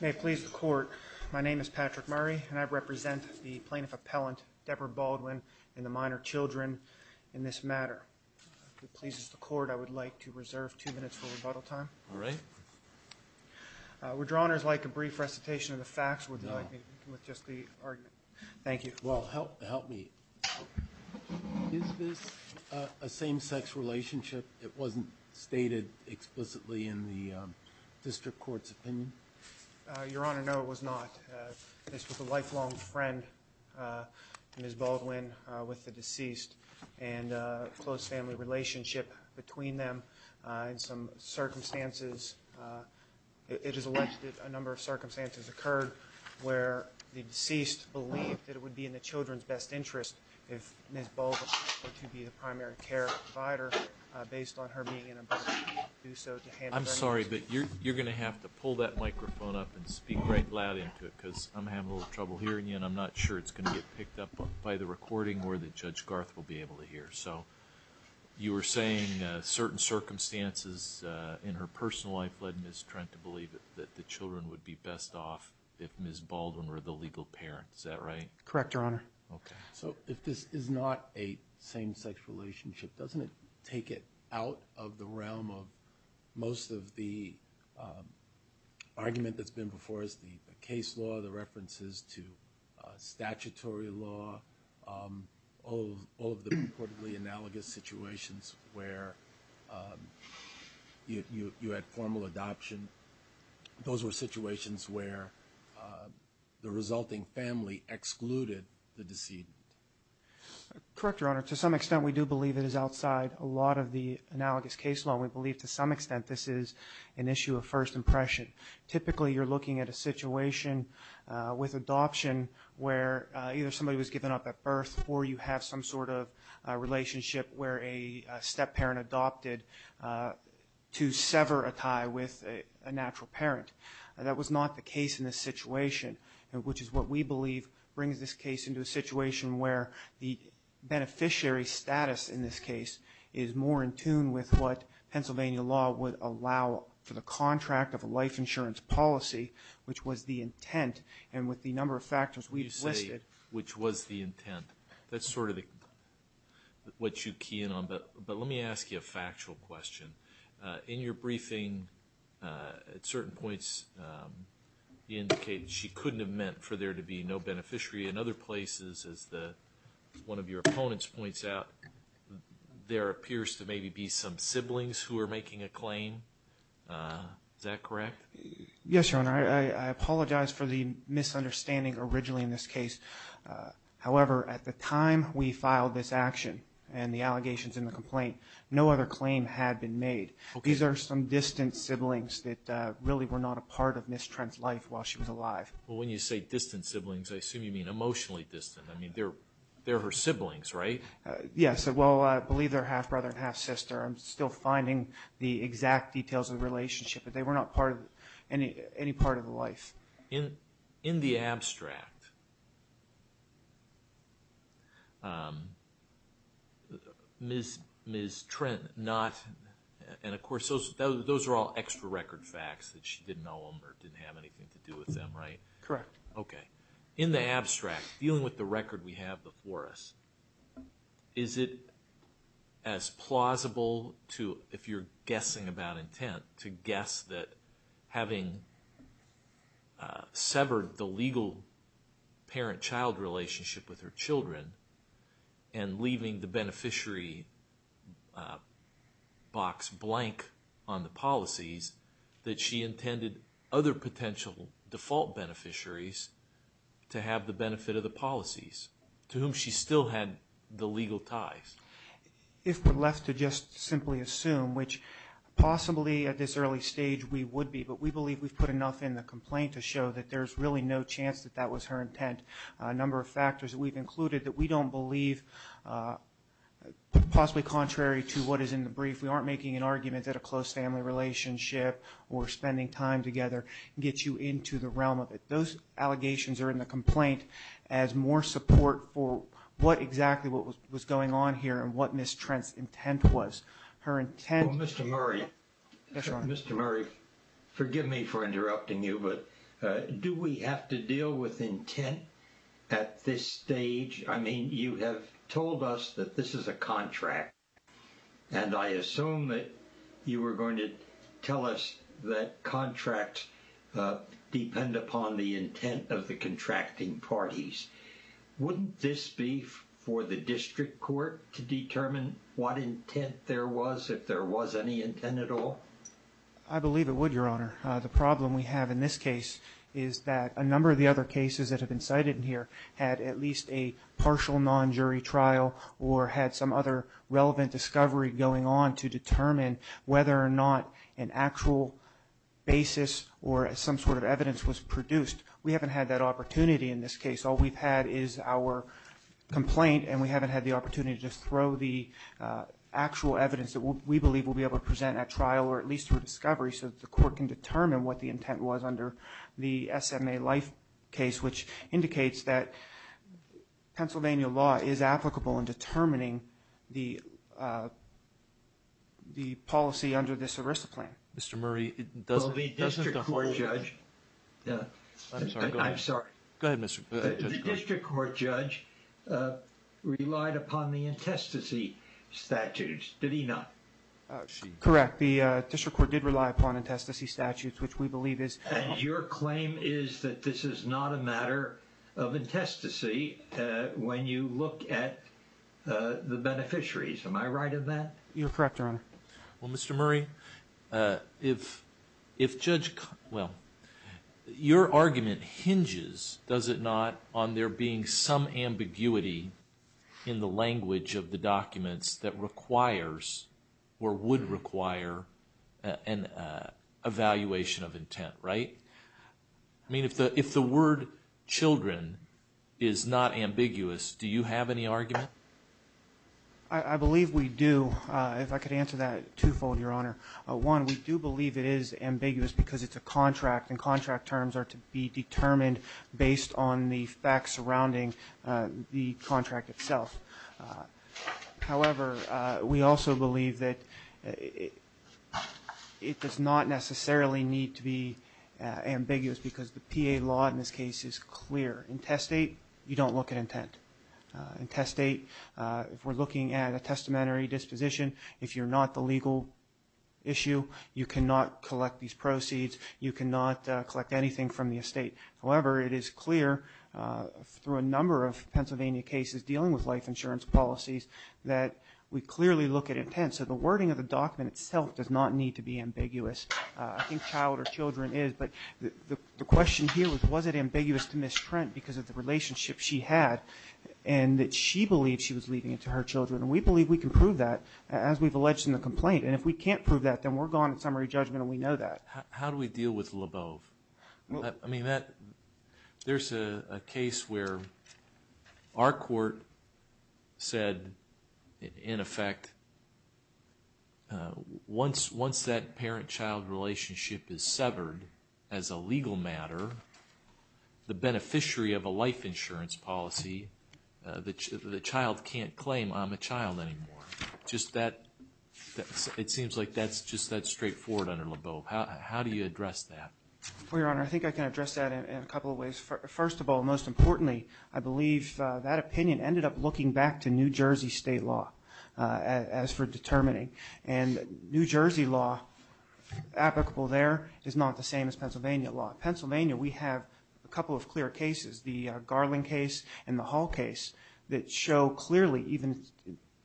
May it please the court, my name is Patrick Murray and I represent the plaintiff appellant Debra Baldwin and the minor children in this matter. If it pleases the court, I would like to reserve two minutes for rebuttal time. All right. Withdrawal is like a brief recitation of the facts, would you like me to begin with just the argument? No. Thank you. Well, help It wasn't stated explicitly in the district court's opinion. Your Honor, no, it was not. This was a lifelong friend, Ms. Baldwin, with the deceased and a close family relationship between them. In some circumstances, it is alleged that a number of circumstances occurred where the deceased believed that it would be in the children's best interest if Ms. Baldwin were the legal parent. Is that right? Correct, Your Honor. So if this is not a same-sex relationship, doesn't it take it out of the realm of most of the argument that's been before us, the case law, the references to statutory law, all of the purportedly analogous situations where you had formal adoption. Those were situations where the resulting family excluded the deceased. Correct, Your Honor. To some extent, we do believe it is outside a lot of the analogous case law. We believe to some extent this is an issue of first impression. Typically, you're looking at a situation with adoption where either somebody was given up at birth or you have some sort of relationship where a step-parent adopted to sever a tie with a natural parent. That was not the case in this situation, which is what we believe brings this case into a situation where the beneficiary status in this case is more in tune with what Pennsylvania law would allow for the contract of a life insurance policy, which was the intent, and with the number of factors we've listed. Which was the intent. That's sort of what you key in on, but let me ask you a factual question. In your briefing, at certain points, you indicated she couldn't have meant for there to be no beneficiary. In other places, as one of your opponents points out, there appears to maybe be some siblings who are making a claim. Is that correct? Yes, Your Honor. I apologize for the misunderstanding originally in this case. However, at the time we filed this action and the allegations and the complaint, no other claim had been made. These are some distant siblings that really were not a part of Ms. Trent's life while she was alive. Well, when you say distant siblings, I assume you mean emotionally distant. I mean, they're her siblings, right? Yes. Well, I believe they're half-brother and half-sister. I'm still finding the exact details of the relationship, but they were not part of any part of the life. In the abstract, Ms. Trent not, and of course, those are all extra record facts that she didn't know them or didn't have anything to do with them, right? Correct. Okay. In the abstract, dealing with the record we have before us, is it as severed the legal parent-child relationship with her children and leaving the beneficiary box blank on the policies that she intended other potential default beneficiaries to have the benefit of the policies to whom she still had the legal ties? If we're left to just simply assume, which possibly at this early stage we would be, but we believe we've put enough in the show that there's really no chance that that was her intent. A number of factors we've included that we don't believe, possibly contrary to what is in the brief, we aren't making an argument that a close family relationship or spending time together gets you into the realm of it. Those allegations are in the complaint as more support for what exactly was going on here and what Ms. Murray, forgive me for interrupting you, but do we have to deal with intent at this stage? I mean, you have told us that this is a contract. And I assume that you were going to tell us that contracts depend upon the intent of the contracting parties. Wouldn't this be for the I believe it would, Your Honor. The problem we have in this case is that a number of the other cases that have been cited in here had at least a partial non-jury trial or had some other relevant discovery going on to determine whether or not an actual basis or some sort of evidence was produced. We haven't had that opportunity in this case. All we've had is our complaint and we haven't had the opportunity to just throw the actual evidence that we believe we'll be able to present at trial or at least through discovery so that the court can determine what the intent was under the SMA Life case, which indicates that Pennsylvania law is applicable in determining the policy under this ERISA plan. Mr. Murray, it doesn't The district court judge relied upon the intestacy statutes, did he not? Correct. The district court did rely upon intestacy statutes, which we believe is. And your claim is that this is not a matter of intestacy when you look at the beneficiaries. Am I right in that? You're correct, Your Honor. Well, Mr. Murray, if Judge, well, your argument hinges, does it not, on there being some ambiguity in the language of the documents that requires or would require an evaluation of intent, right? I mean, if the word children is not ambiguous, do you have any argument? I believe we do. If I could answer that twofold, Your Honor. One, we do believe it is ambiguous because it's a contract and contract terms are to be determined based on the facts surrounding the contract itself. However, we also believe that it does not necessarily need to be ambiguous because the PA law in this case is clear. Intestate, you don't look at intent. Intestate, if we're looking at a testamentary disposition, if you're not the legal issue, you cannot collect these proceeds. You cannot collect anything from the estate. However, it is clear through a number of Pennsylvania cases dealing with life insurance policies that we clearly look at intent. So the wording of the document itself does not need to be ambiguous. I think child or children is, but the question here was, was it ambiguous to Ms. Trent because of the relationship she had and that she believed she was leaving it to her children? And we believe we can prove that as we've alleged in the complaint. And if we can't prove that, then we're gone in summary judgment and we know that. How do we deal with LeBeau? I mean, there's a case where our court said, in effect, once that parent-child relationship is severed as a legal matter, the beneficiary of a life insurance policy, the child can't claim I'm a child anymore. Just that, it seems like that's just that straightforward under LeBeau. How do you address that? Well, Your Honor, I think I can address that in a couple of ways. First of all, most importantly, I believe that opinion ended up looking back to New Jersey state law as for determining. And New Jersey law applicable there is not the same as Pennsylvania law. Pennsylvania, we have a couple of clear cases, the Garland case and the Hall case, that show clearly even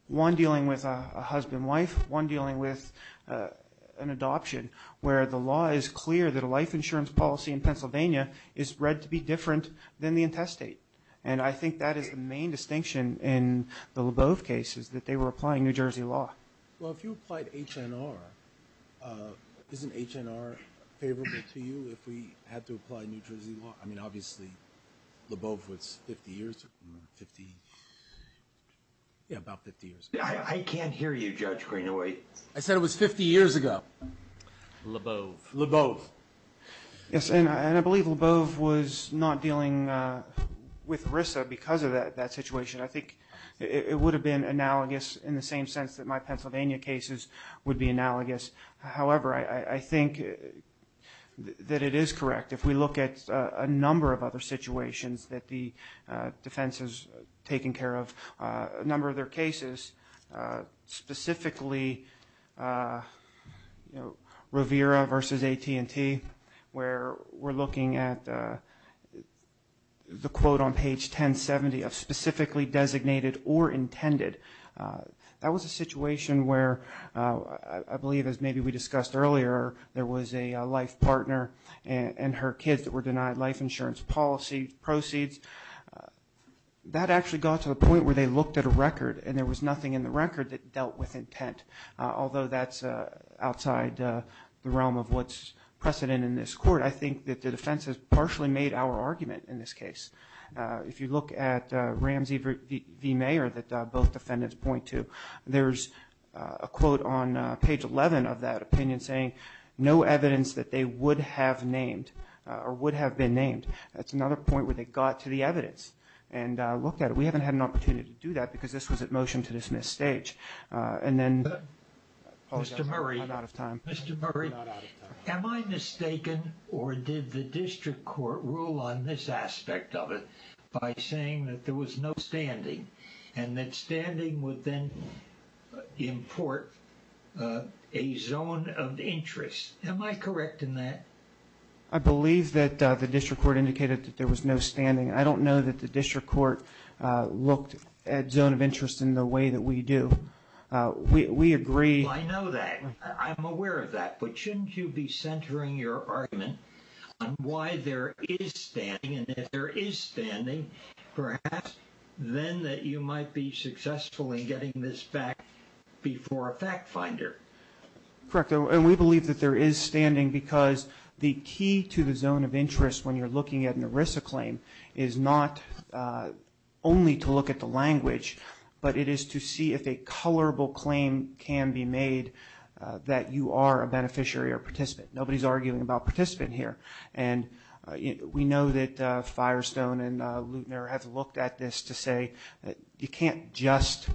one dealing with a husband-wife, one dealing with an adoption, where the law is clear that a life insurance policy in Pennsylvania is read to be different than the intestate. And I think that is the main distinction in the LeBeau cases, that they were applying New Jersey law. Well, if you applied HNR, isn't HNR favorable to you if we had to apply New Jersey law? I mean, obviously, LeBeau was 50 years, 50, yeah, about 50 years ago. I can't hear you, Judge Greenaway. I said it was 50 years ago. LeBeau. LeBeau. Yes, and I believe LeBeau was not dealing with RISA because of that situation. I think it would have been analogous in the same sense that my Pennsylvania cases would be analogous. However, I think that it is correct, if we look at a number of other situations that the defense has taken care of, a number of their cases, specifically, you know, Rivera versus AT&T, where we're looking at the quote on page 1070 of specifically designated or intended. That was a situation where I believe, as maybe we discussed earlier, there was a life partner and her kids that were denied life insurance policy proceeds. That actually got to the point where they looked at a record and there was nothing in the record that dealt with intent. Although that's outside the realm of what's precedent in this court, I think that the defense has partially made our argument in this case. If you look at Ramsey v. Mayer that both defendants point to, there's a quote on page 11 of that opinion saying, no evidence that they would have named or would have been named. That's another point where they got to the evidence and looked at it. We haven't had an opportunity to do that because this was at motion to dismiss stage. And then Paul got caught out of time. Mr. Murray, am I mistaken or did the district court rule on this aspect of it by saying that there was no standing and that standing would then import a zone of interest? Am I correct in that? I believe that the district court indicated that there was no standing. I don't know that the district court looked at zone of interest in the way that we do. We agree. I know that. I'm aware of that. But shouldn't you be centering your argument on why there is standing? And if there is standing, perhaps then that you might be successful in getting this back before a fact finder. Correct. And we believe that there is standing because the key to the zone of interest when you're looking at an ERISA claim is not only to look at the language, but it is to see if a colorable claim can be made that you are a beneficiary or participant. Nobody's arguing about participant here. And we know that Firestone and Leutner have looked at this to say that you can't just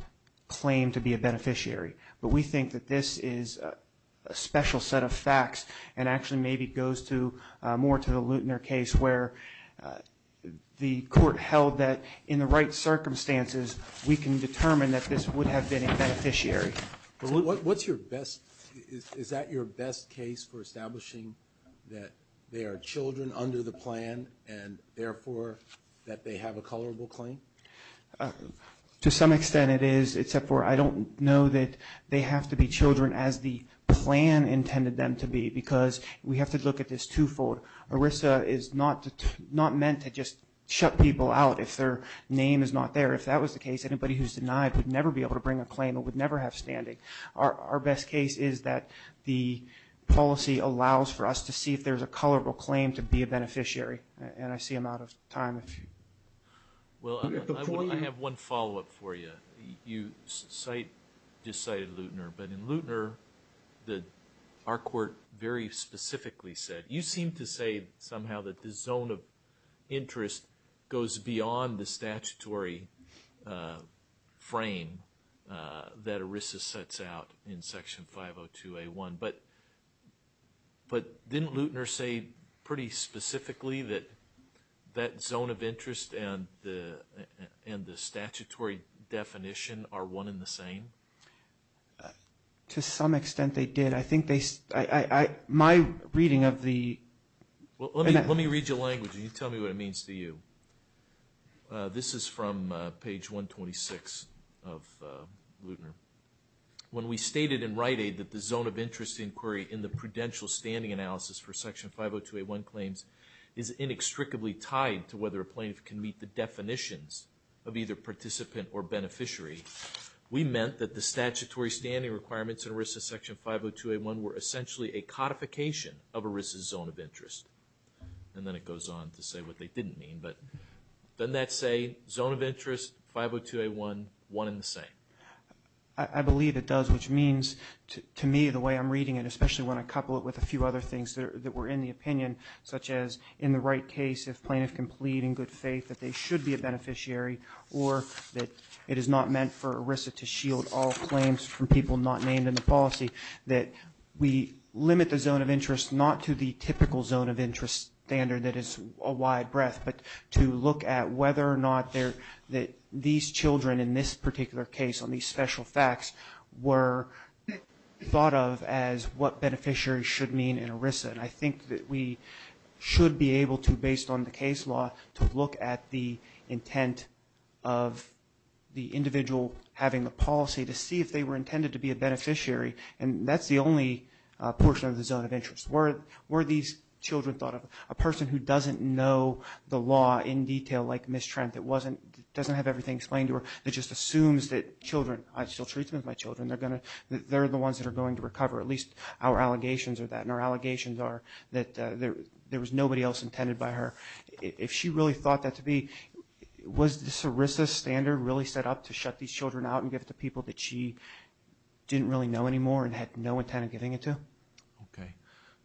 claim to be a beneficiary. But we think that this is a special set of facts and actually maybe goes more to the Leutner case where the court held that in the right circumstances, we can determine that this would have been a beneficiary. What's your best – is that your best case for establishing that they are children under the plan and therefore that they have a colorable claim? To some extent it is, except for I don't know that they have to be children as the plan intended them to be because we have to look at this twofold. ERISA is not meant to just shut people out if their name is not there. If that was the case, anybody who's denied would never be able to bring a claim and would never have standing. Our best case is that the policy allows for us to see if there's a colorable claim to be a beneficiary. And I see I'm out of time. Well, I have one follow-up for you. You just cited Leutner, but in Leutner, our court very specifically said, you seem to say somehow that the zone of interest goes beyond the statutory frame that ERISA sets out in Section 502A1. But didn't Leutner say pretty specifically that that zone of interest and the statutory definition are one and the same? To some extent they did. I think they, my reading of the Let me read you a language and you tell me what it means to you. This is from page 126 of Leutner. When we stated in Rite Aid that the zone of interest inquiry in the prudential standing analysis for Section 502A1 claims is inextricably tied to whether a plaintiff can meet the definitions of either participant or beneficiary, we meant that the statutory standing requirements in ERISA Section 502A1 were essentially a codification of ERISA's zone of interest. And then it goes on to say what they didn't mean. But doesn't that say zone of interest, 502A1, one and the same? I believe it does, which means to me the way I'm reading it, especially when I couple it with a few other things that were in the opinion, such as in the right case, if plaintiff can plead in good faith that they should be a beneficiary or that it is not meant for ERISA to shield all claims from people not named in the policy, that we limit the zone of interest not to the typical zone of interest standard that is a wide breadth, but to look at whether or not that these children in this particular case on these special facts were thought of as what beneficiaries should mean in ERISA. And I think that we should be able to, based on the case law, to look at the intent of the individual having the policy to see if they were intended to be a beneficiary. And that's the only portion of the zone of interest. Were these children thought of? A person who doesn't know the law in detail, like Ms. Trent, that doesn't have everything explained to her, that just assumes that children, I still treat them as my children, they're the ones that are going to recover, at least our allegations are that. And our allegations are that there was nobody else intended by her. If she really thought that to be, was this ERISA standard really set up to shut these children out and give it to people that she didn't really know anymore and had no intent of giving it to?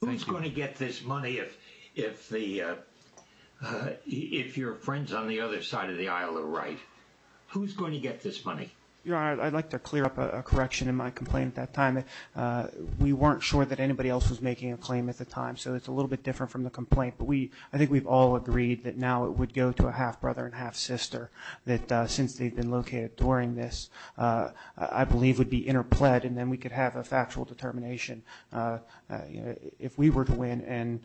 Who's going to get this money if your friends on the other side of the aisle are right? Who's going to get this money? I'd like to clear up a correction in my complaint at that time. We weren't sure that anybody else was making a claim at the time, so it's a little bit different from the complaint. But I think we've all agreed that now it would go to a half-brother and half-sister, that since they've been located during this, I believe it would be interpled and then we could have a factual determination. If we were to win and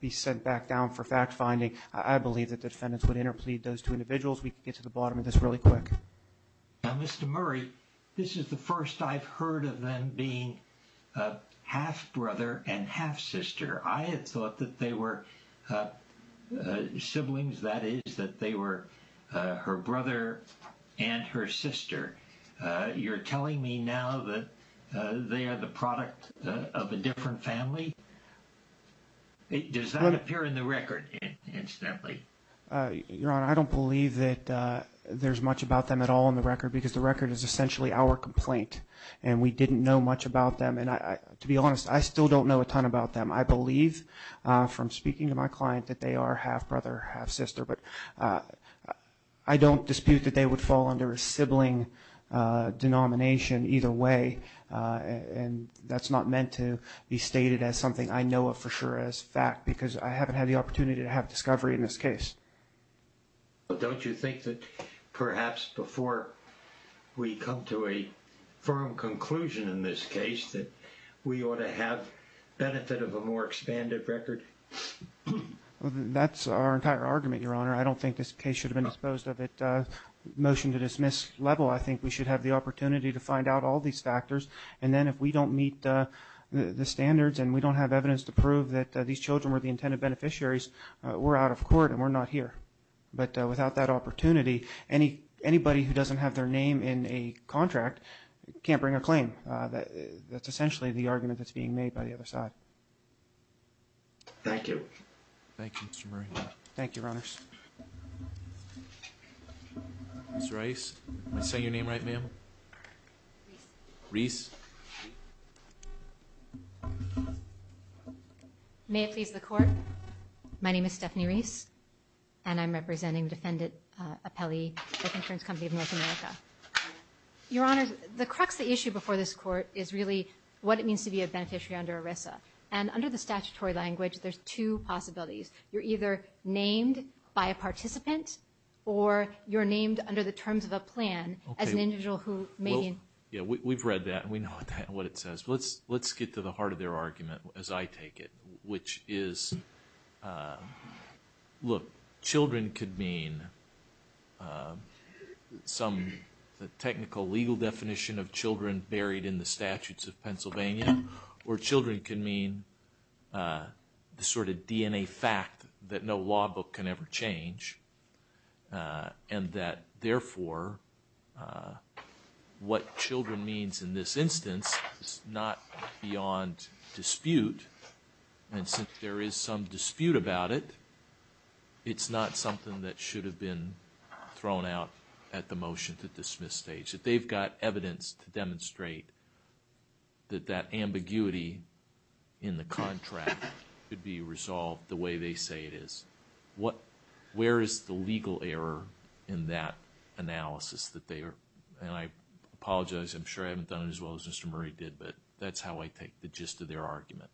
be sent back down for fact-finding, I believe that the defendants would interplead those two individuals. We could get to the bottom of this really quick. Mr. Murray, this is the first I've heard of them being half-brother and half-sister. I had thought that they were siblings, that is, that they were her brother and her sister. You're telling me now that they are the product of a different family? Does that appear in the record, incidentally? Your Honor, I don't believe that there's much about them at all in the record because the record is essentially our complaint and we didn't know much about them. To be honest, I still don't know a ton about them. I believe from speaking to my client that they are half-brother, half-sister, but I don't dispute that they would fall under a sibling denomination either way and that's not meant to be stated as something I know of for sure as fact because I haven't had the opportunity to have discovery in this case. Don't you think that perhaps before we come to a firm conclusion in this case that we ought to have benefit of a more expanded record? That's our entire argument, Your Honor. I don't think this case should have been disposed of at a motion-to-dismiss level. I think we should have the opportunity to find out all these factors and then if we don't meet the standards and we don't have evidence to prove that these children were the intended beneficiaries, we're out of court and we're not here. But without that opportunity, anybody who doesn't have their name in a contract can't bring a claim. That's essentially the argument that's being made by the other side. Thank you. Thank you, Mr. Murray. Thank you, Your Honors. Ms. Rice, did I say your name right, ma'am? Reese. May it please the Court. My name is Stephanie Reese and I'm representing Defendant Appelli with Insurance Company of North America. Your Honor, the crux of the issue before this Court is really what it means to be a beneficiary under ERISA and under the statutory language, there's two possibilities. You're either named by a participant or you're named under the terms of a plan as an individual who may be... We've read that and we know what it says, but let's get to the heart of their argument as I take it, which is, look, children could mean some technical legal definition of children buried in the statutes of Pennsylvania or children could mean the sort of DNA fact that no law book can ever change and that, therefore, what children means in this instance is not beyond dispute and since there is some dispute about it, it's not something that should have been thrown out at the motion to dismiss stage. That they've got evidence to demonstrate that that ambiguity in the contract could be resolved the way they say it is. Where is the legal error in that analysis? And I apologize, I'm sure I haven't done it as well as Mr. Murray did, but that's how I take the gist of their argument.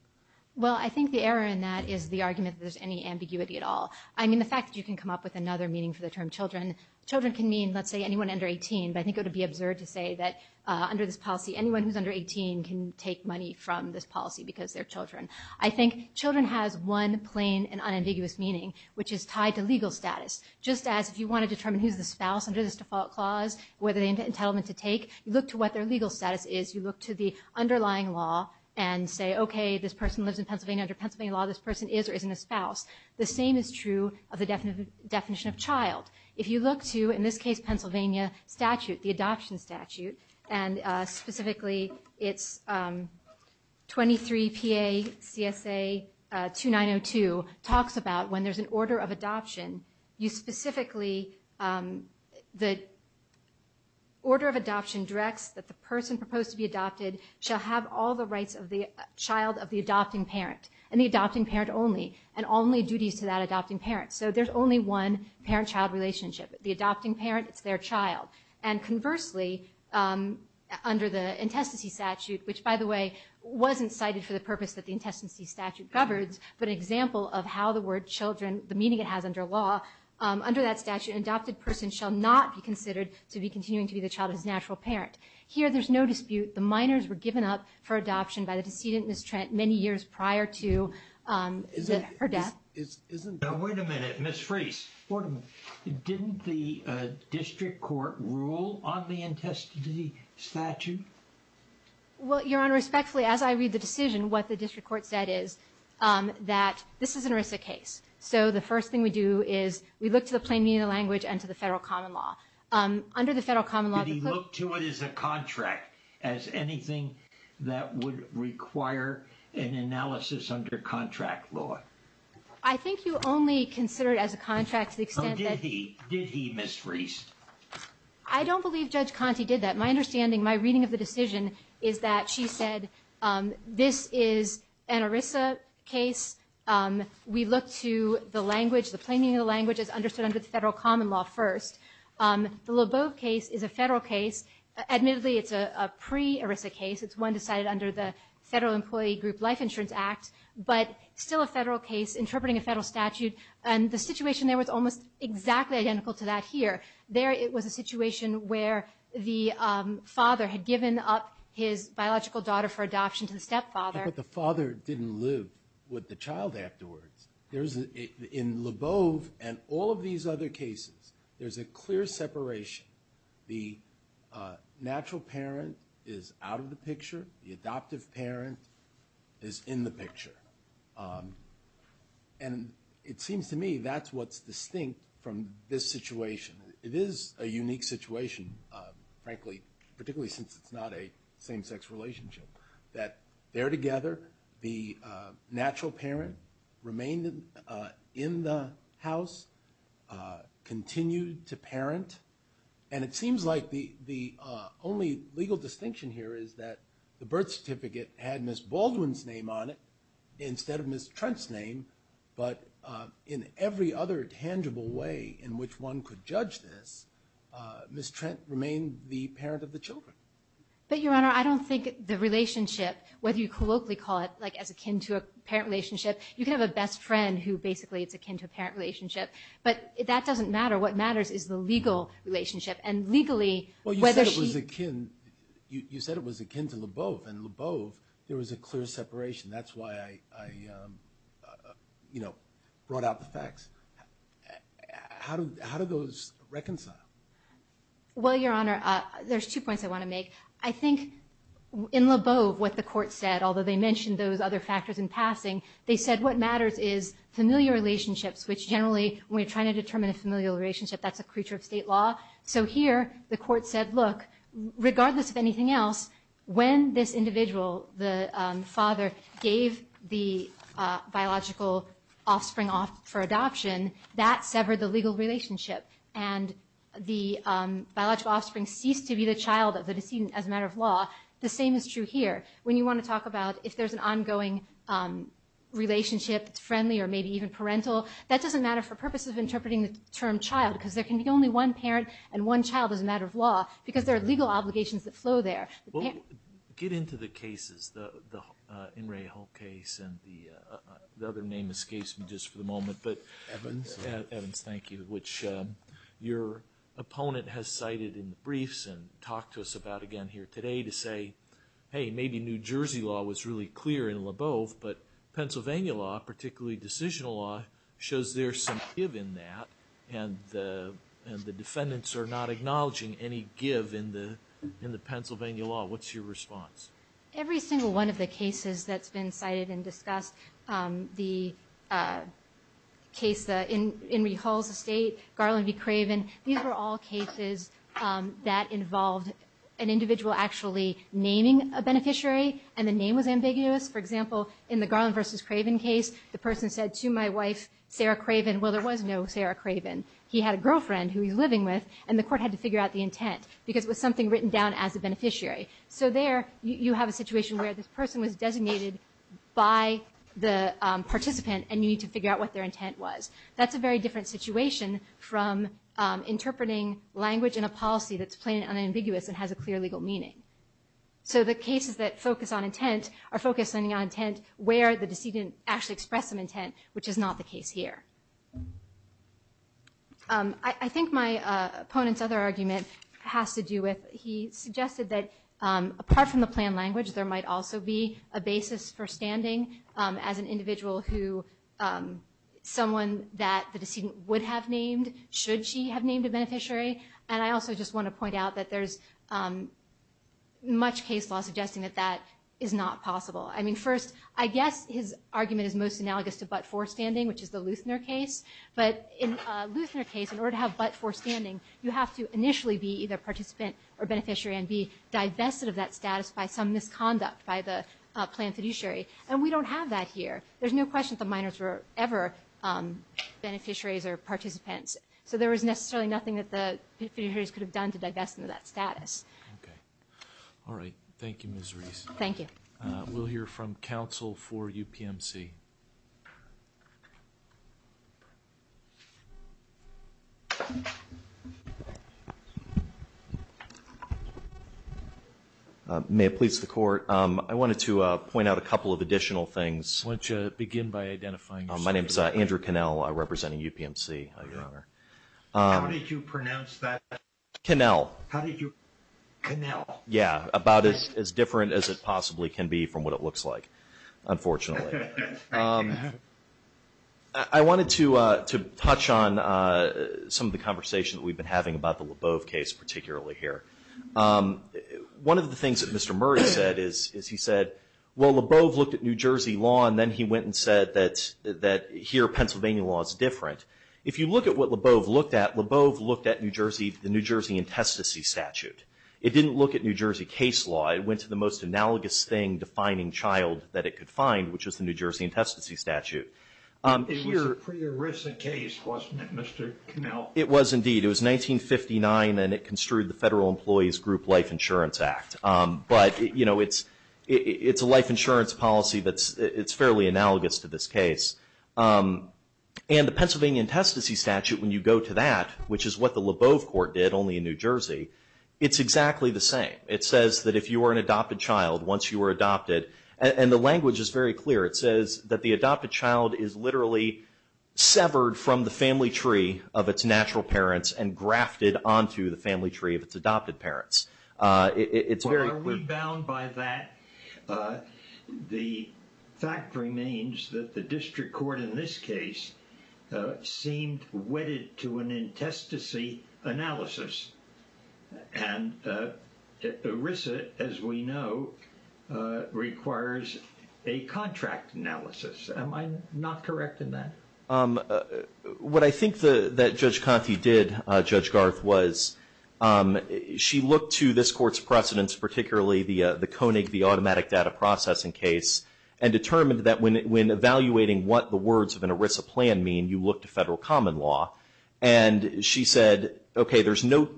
Well, I think the error in that is the argument that there's any ambiguity at all. I mean, the fact that you can come up with another meaning for the term children, children can mean, let's say, anyone under 18, but I think it would be absurd to say that under this policy anyone who's under 18 can take money from this policy because they're children. I think children has one plain and unambiguous meaning which is tied to legal status. Just as if you want to determine who's the spouse under this default clause and what entitlement to take, you look to what their legal status is, you look to the underlying law and say, okay, this person lives in Pennsylvania under Pennsylvania law, this person is or isn't a spouse. The same is true of the definition of child. If you look to, in this case, Pennsylvania statute, the adoption statute, and specifically it's 23 PA CSA 2902 talks about when there's an order of adoption, you specifically, the order of adoption directs that the person proposed to be adopted shall have all the rights of the child of the adopting parent and the adopting parent only and only duties to that adopting parent. So there's only one parent-child relationship. The adopting parent, it's their child. And conversely, under the intestacy statute, which by the way wasn't cited for the purpose that the intestacy statute covers, but an example of how the word children, the meaning it has under law, under that statute an adopted person shall not be considered to be continuing to be the child of his natural parent. Here there's no dispute, the minors were given up for adoption by the decedent, Ms. Trent, many years prior to her death. Wait a minute, Ms. Freese. Didn't the district court rule on the intestacy statute? Well, Your Honor, respectfully, as I read the decision, what the district court said is that this is an ERISA case. So the first thing we do is we look to the plain meaning of the language and to the federal common law. Did he look to it as a contract, as anything that would require an analysis under contract law? I think you only consider it as a contract to the extent that... So did he, Ms. Freese? I don't believe Judge Conte did that. My understanding, my reading of the decision is that she said this is an ERISA case. We look to the language, the plain meaning of the language as understood under the federal common law first. The Lebeau case is a federal case. Admittedly, it's a pre-ERISA case. It's one decided under the Federal Employee Group Life Insurance Act, but still a federal case interpreting a federal statute. And the situation there was almost exactly identical to that here. There, it was a situation where the father had given up his biological daughter for adoption to the stepfather. But the father didn't live with the child afterwards. In Lebeau and all of these other cases, there's a clear separation. The natural parent is out of the picture. The adoptive parent is in the picture. And it seems to me that's what's distinct from this situation. It is a unique situation, frankly, particularly since it's not a same-sex relationship, that there together, the natural parent remained in the house, continued to parent, and it seems like the only legal distinction here is that the birth certificate had Ms. Baldwin's name on it instead of Ms. Trent's name, but in every other tangible way in which one could judge this, Ms. Trent remained the parent of the children. But, Your Honor, I don't think the relationship, whether you colloquially call it as akin to a parent relationship, you can have a best friend who basically is akin to a parent relationship, but that doesn't matter. What matters is the legal relationship. You said it was akin to Lebeau. In Lebeau, there was a clear separation. That's why I brought out the facts. How do those reconcile? Well, Your Honor, there's two points I want to make. I think in Lebeau, what the court said, although they mentioned those other factors in passing, they said what matters is familiar relationships, which generally, when we're trying to determine a familial relationship, that's a creature of state law. So here, the court said, look, regardless of anything else, when this individual, the father, gave the biological offspring off for adoption, that severed the legal relationship, and the biological offspring ceased to be the child of the decedent as a matter of law. The same is true here. When you want to talk about if there's an ongoing relationship that's friendly or maybe even parental, that doesn't matter for purposes of interpreting the term child, because there can be only one parent and one child as a matter of law, because there are legal obligations that flow there. Get into the cases, the In Re Hull case, and the other name escapes me just for the moment, Evans, thank you, which your opponent has cited in the briefs and talked to us about again here today to say, hey, maybe New Jersey law was really clear in LaBeouf, but Pennsylvania law, particularly decisional law, shows there's some give in that, and the defendants are not acknowledging any give in the Pennsylvania law. What's your response? Every single one of the cases that's been cited and discussed, the case, the In Re Hull's estate, Garland v. Craven, these were all cases that involved an individual actually naming a beneficiary and the name was ambiguous. For example, in the Garland v. Craven case, the person said to my wife, Sarah Craven, well, there was no Sarah Craven. He had a girlfriend who he was living with the participant and you need to figure out what their intent was. That's a very different situation from interpreting language in a policy that's plain and unambiguous and has a clear legal meaning. So the cases that focus on intent are focused on intent where the decedent actually expressed some intent, which is not the case here. I think my opponent's other argument has to do with he suggested that apart from the planned language, there might also be a basis for standing as an individual who, someone that the decedent would have named, should she have named a beneficiary, and I also just want to point out that there's much case law suggesting that that is not possible. I mean, first, I guess his argument is most analogous to but-for-standing, which is the Luthner case, but in a Luthner case, in order to have but-for-standing, you have to initially be either participant or beneficiary and be divested of that status by some misconduct by the planned fiduciary, and we don't have that here. There's no question that the minors were ever beneficiaries or participants, so there was necessarily nothing that the fiduciaries could have done to divest them of that status. Okay. All right. Thank you, Ms. Reese. We'll hear from counsel for UPMC. May it please the Court. I wanted to point out a couple of additional things. Why don't you begin by identifying yourself? My name's Andrew Connell. I represent UPMC, Your Honor. How did you pronounce that? Connell. Yeah, about as different as it possibly can be from what it looks like, unfortunately. I wanted to touch on some of the conversation that we've been having about the Leboeuf case particularly here. One of the things that Mr. Murray said is he said, well, Leboeuf looked at New Jersey law, and then he went and said that here, Pennsylvania law is different. If you look at what Leboeuf looked at, Leboeuf looked at New Jersey, the New Jersey intestacy statute. It didn't look at New Jersey case law. It went to the most analogous thing defining child that it could find, which was the New Jersey intestacy statute. It was a pre-ERISA case, wasn't it, Mr. Connell? It was indeed. It was 1959, and it construed the Federal Employees Group Life Insurance Act. It's a life insurance policy that's fairly analogous to this case. The Pennsylvania intestacy statute, when you go to that, which is what the Leboeuf Court did, only in New Jersey, it's exactly the same. It says that if you were an adopted child, once you were adopted, and the language is very clear. It says that the adopted child is literally severed from the family tree of its natural parents and grafted onto the family tree of its adopted parents. It's very clear. Are we bound by that? The fact remains that the district court in this case seemed wedded to an intestacy analysis. And ERISA, as we know, requires a contract analysis. Am I not correct in that? What I think that Judge Conte did, Judge Garth, was she looked to this court's precedents, particularly the Koenig, the automatic data processing case, and determined that when evaluating what the words of an ERISA plan mean, you look to federal common law. And she said, okay, there's no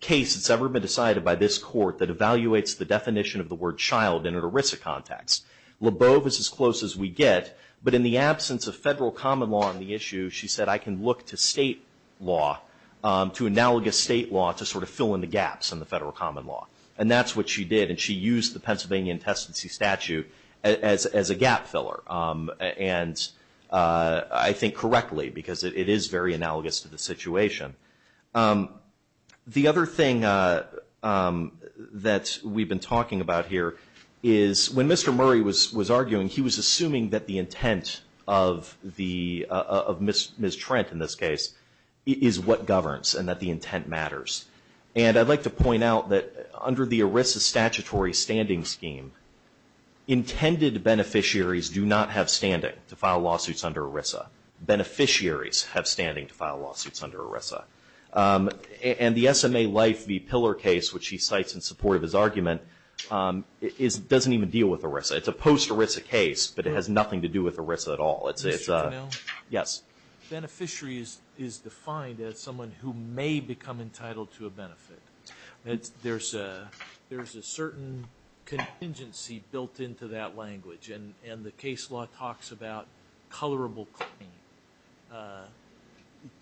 case that's ever been decided by this court that evaluates the definition of the word child in an ERISA context. Leboeuf is as close as we get, but in the absence of federal common law on the issue, she said, I can look to state law, to analogous state law, to sort of fill in the gaps in the federal common law. And that's what she did. And she used the Pennsylvania intestacy statute as a gap filler. And I think correctly, because it is very analogous to the situation. The other thing that we've been talking about here is when Mr. Murray was arguing, he was assuming that the intent of Ms. Trent, in this case, is what governs and that the intent matters. And I'd like to point out that under the ERISA statutory standing scheme, intended beneficiaries do not have standing to file lawsuits under ERISA. Beneficiaries have standing to file lawsuits under ERISA. And the SMA Life v. Pillar case, which he cites in support of his argument, doesn't even deal with ERISA. It's a post-ERISA case, but it has nothing to do with ERISA at all. entitled to a benefit. There's a certain contingency built into that language. And the case law talks about colorable claim.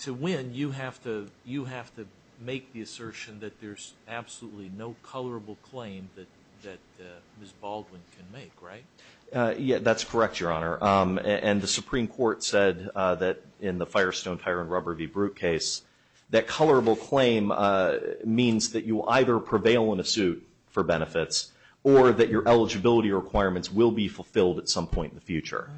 To win, you have to make the assertion that there's absolutely no colorable claim that Ms. Baldwin can make, right? That's correct, Your Honor. And the Supreme Court said that in the Firestone-Tyrone-Rubber v. Brute case that colorable claim means that you will either prevail in a suit for benefits or that your eligibility requirements will be fulfilled at some point in the future.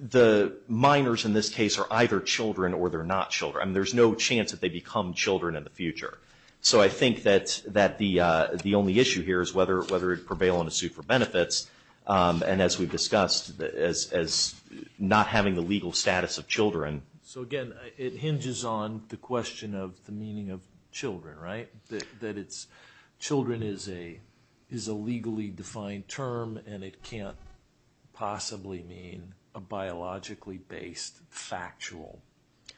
The minors in this case are either children or they're not children. There's no chance that they become children in the future. So I think that the only issue here is whether to prevail in a suit for benefits and as we've discussed, as not having the legal status of children. So again, it hinges on the question of the meaning of children, right? Children is a legally defined term and it can't possibly mean a biologically based factual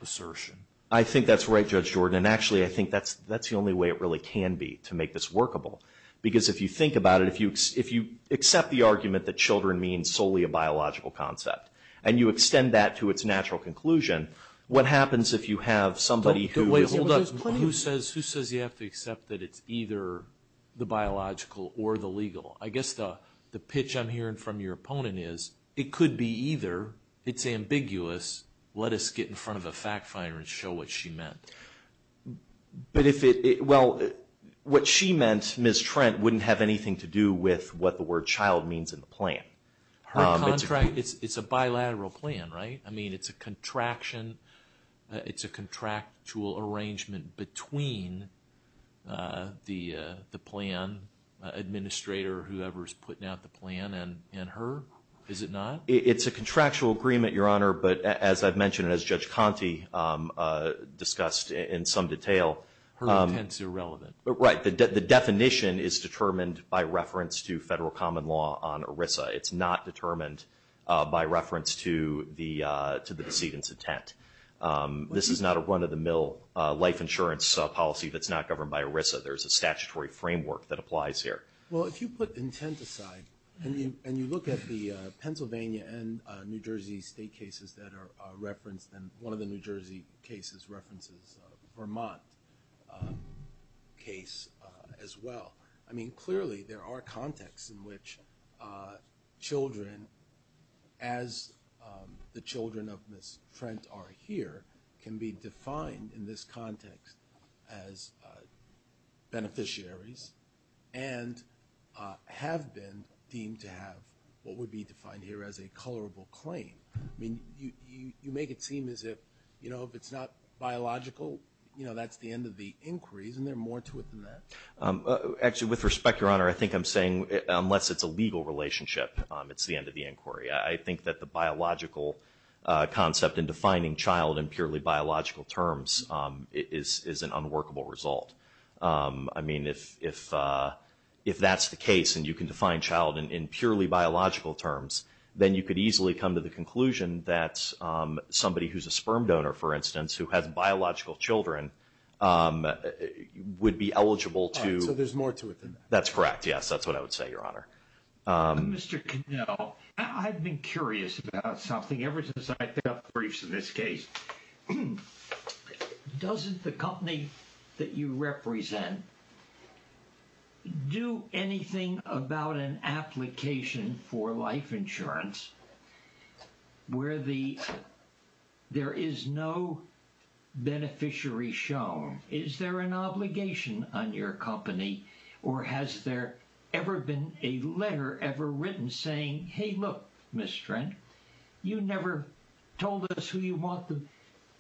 assertion. I think that's right, Judge Jordan, and actually I think that's the only way it really can be to make this workable. Because if you think about it, if you accept the argument that children means solely a biological concept and you extend that to its natural conclusion, what happens if you have somebody who says you have to accept that it's either the biological or the legal? I guess the pitch I'm hearing from your opponent is it could be either, it's ambiguous, let us get in front of a fact finder and show what she meant. But if it, well, what she meant, Ms. Trent, wouldn't have anything to do with what the word child means in the plan. It's a bilateral plan, right? It's a contraction, it's a contractual arrangement between the plan administrator or whoever is putting out the plan and her? Is it not? It's a contractual agreement, Your Honor, but as I've mentioned and as Judge Conte discussed in some detail. Her intent's irrelevant. Right, the definition is determined by reference to federal common law on ERISA. It's not determined by reference to the decedent's intent. This is not a run-of-the-mill life insurance policy that's not governed by ERISA. There's a statutory framework that applies here. Well, if you put intent aside and you look at the Pennsylvania and New Jersey state cases that are referenced and one of the New Jersey cases references Vermont case as well. I mean, clearly there are contexts in which children, as the children of Ms. Trent are here can be defined in this context as beneficiaries and have been deemed to have what would be defined here as a colorable claim. You make it seem as if if it's not biological, that's the end of the inquiry. Isn't there more to it than that? Actually, with respect, Your Honor, I think I'm saying unless it's a legal relationship it's the end of the inquiry. I think that the biological concept in defining child in purely biological terms is an unworkable result. I mean, if if that's the case and you can define child in purely biological terms, then you could easily come to the conclusion that somebody who's a sperm donor, for instance, who has biological children would be eligible to... So there's more to it than that? That's correct, yes. That's what I would say, Your Honor. Mr. Cannell, I've been curious about something ever since I picked up briefs in this case. Doesn't the company that you represent do anything about an application for life insurance where there is no beneficiary shown? Is there an obligation on your company or has there ever been a letter ever written saying, hey, look, Mr. Trent, you never told us who you want the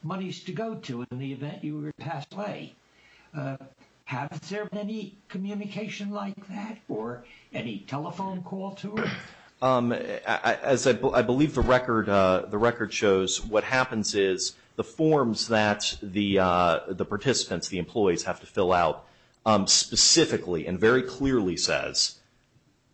monies to go to in the event you were to pass away. Has there been any communication like that or any telephone call to it? I believe the record shows what happens is the forms that the participants, the employees, have to fill out specifically and very clearly says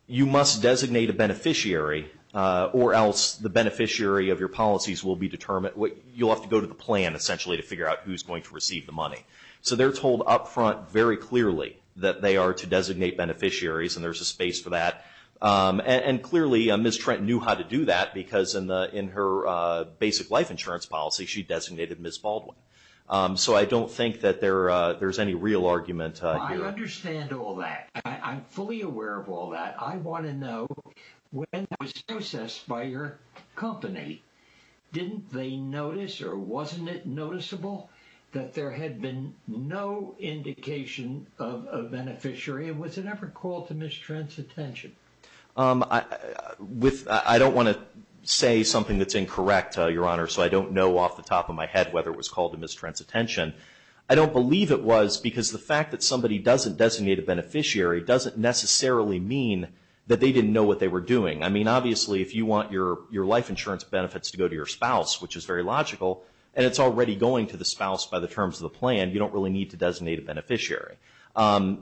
you must designate a beneficiary or else the beneficiary of your policies will be determined. You'll have to go to the plan essentially to figure out who's going to receive the money. So they're told up front very clearly that they are to designate beneficiaries and there's a space for that. And clearly Ms. Trent knew how to do that because in her basic life insurance policy she designated Ms. Baldwin. So I don't think that there's any real argument here. I understand all that. I'm fully aware of all that. I want to know when that was processed by your company, didn't they notice or wasn't it noticeable that there had been no indication of a beneficiary and was it ever called to Ms. Trent's attention? I don't want to say something that's incorrect, Your Honor, so I don't know off the top of my head whether it was called to Ms. Trent's attention. I don't believe it was because the fact that somebody doesn't designate a beneficiary doesn't necessarily mean that they didn't know what they were doing. I mean obviously if you want your life insurance benefits to go to your spouse, which is very logical, and it's already going to the spouse by the terms of the plan, you don't really need to designate a beneficiary.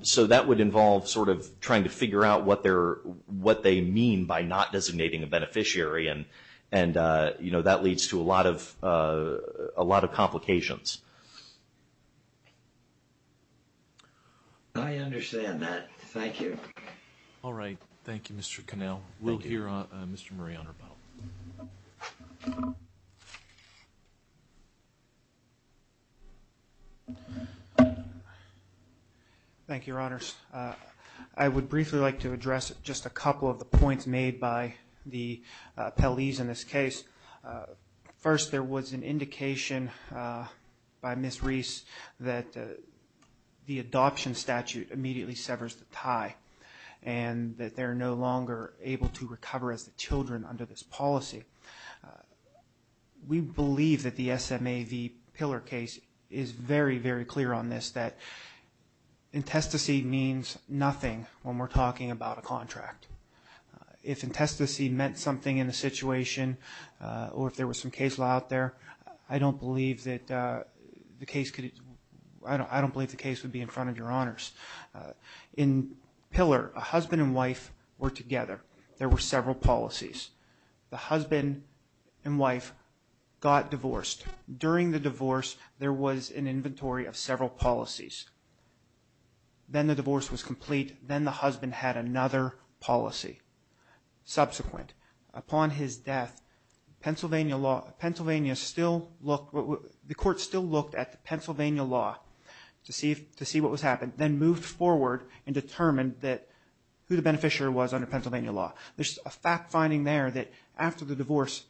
So that would involve sort of trying to figure out what they mean by not designating a beneficiary and that leads to a lot of complications. I understand that. Thank you. All right. Thank you, Mr. Connell. We'll hear Mr. Murray on our panel. Thank you, Your Honors. I would briefly like to address just a couple of the points made by the appellees in this case. First, there was an indication by Ms. Reese that the adoption statute immediately severs the tie and that they're no longer able to recover as the children under this policy. We believe that the SMAV pillar case is very, very clear on this that intestacy means nothing when we're talking about a contract. If intestacy meant something in the situation or if there was some case law out there, I don't believe that the case could... I don't believe the case would be in front of Your Honors. In pillar, a husband and wife were together. There were several policies. The husband and wife got divorced. During the divorce, there was an inventory of several policies. Then the divorce was complete. Then the husband had another policy. Subsequent, upon his death, Pennsylvania still looked... the court still looked at the Pennsylvania law to see what was happening, then moved forward and determined who the beneficiary was under Pennsylvania law. There's a fact finding there that after the divorce,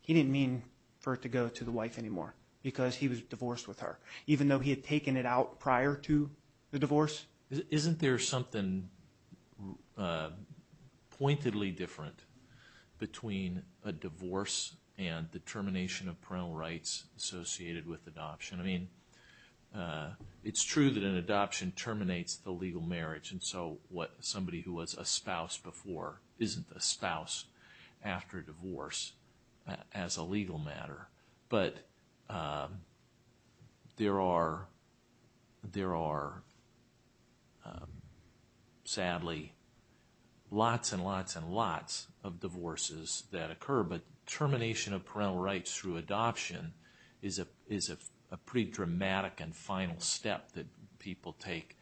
he didn't mean for it to go to the wife anymore because he was divorced with her, even though he had taken it out prior to the divorce. Isn't there something pointedly different between a divorce and the termination of parental rights associated with adoption? I mean, it's true that an adoption terminates the legal marriage and so somebody who was a spouse before isn't a spouse after divorce as a legal matter, but there are sadly lots and lots and lots of divorces that occur, but termination of parental rights through adoption is a pretty dramatic and final step that people take.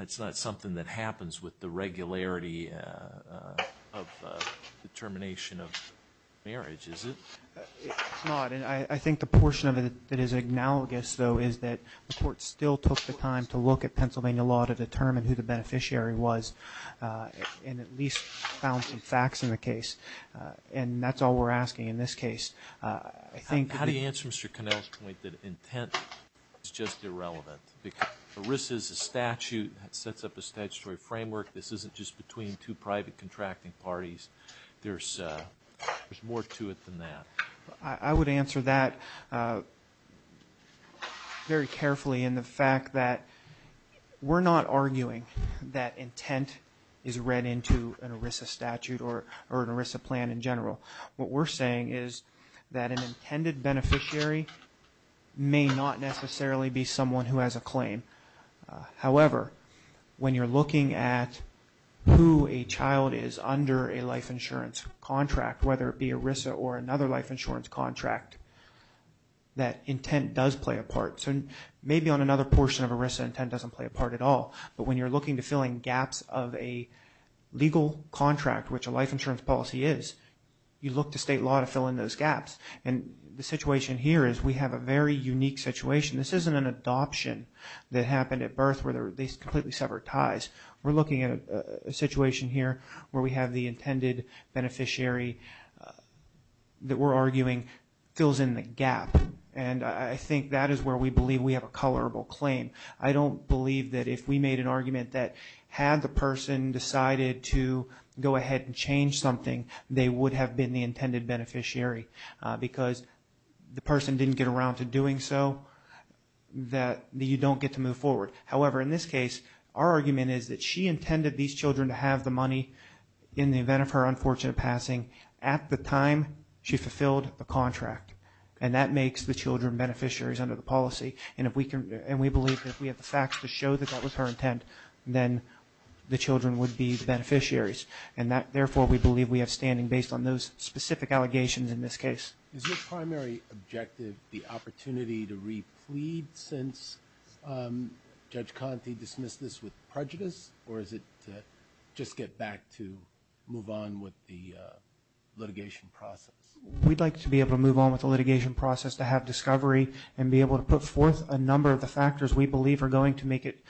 It's not something that happens with the regularity of the termination of marriage, is it? It's not, and I think the portion of it that is analogous though is that the court still took the time to look at Pennsylvania law to determine who the beneficiary was and at least found some facts in the case and that's all we're asking in this case. How do you answer Mr. Connell's point that intent is just irrelevant because ERISA is a statute that sets up a statutory framework. This isn't just between two private contracting parties. There's more to it than that. I would answer that very carefully in the fact that we're not arguing that intent is read into an ERISA statute or an ERISA plan in general. What we're saying is that an intended beneficiary may not necessarily be someone who has a claim. However, when you're looking at who a child is under a life insurance contract, whether it be ERISA or another life insurance contract that intent does play a part. Maybe on another portion of ERISA, intent doesn't play a part at all, but when you're looking to fill in gaps of a legal contract, which a life insurance policy is, you look to state law to fill in those gaps. The situation here is we have a very unique situation. This isn't an adoption that happened at birth where they completely severed ties. We're looking at a situation here where we have the intended beneficiary that we're arguing fills in the gap. I think that is where we believe we have a colorable claim. I don't believe that if we made an argument that had the person decided to go ahead and change something, they would have been the intended beneficiary because the person didn't get around to doing so that you don't get to move forward. However, in this case, our argument is that she intended these children to have the money in the event of her unfortunate passing at the time she fulfilled the contract. That makes the children beneficiaries under the policy. We believe that if we have the facts to show that that was her intent, then the children would be the beneficiaries. Therefore, we believe we have standing based on those specific allegations in this case. Is your primary objective the opportunity to Judge Conte dismiss this with prejudice or is it to just get back to move on with the litigation process? We'd like to be able to move on with the litigation process to have discovery and be able to put forth a number of the factors we believe are going to make it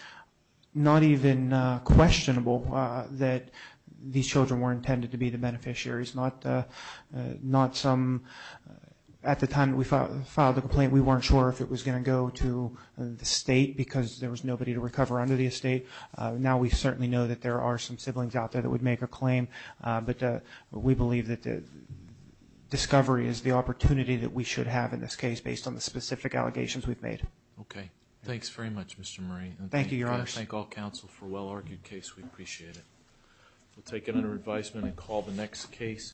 not even questionable that these children were intended to be the beneficiaries. At the time we filed the complaint, we weren't sure if it was going to go to the state because there was nobody to recover under the estate. Now we certainly know that there are some siblings out there that would make a claim, but we believe that the discovery is the opportunity that we should have in this case based on the specific allegations we've made. Okay. Thanks very much Mr. Murray. Thank you, Your Honor. I thank all counsel for a well argued case. We appreciate it. We'll take it under advisement and call the next case.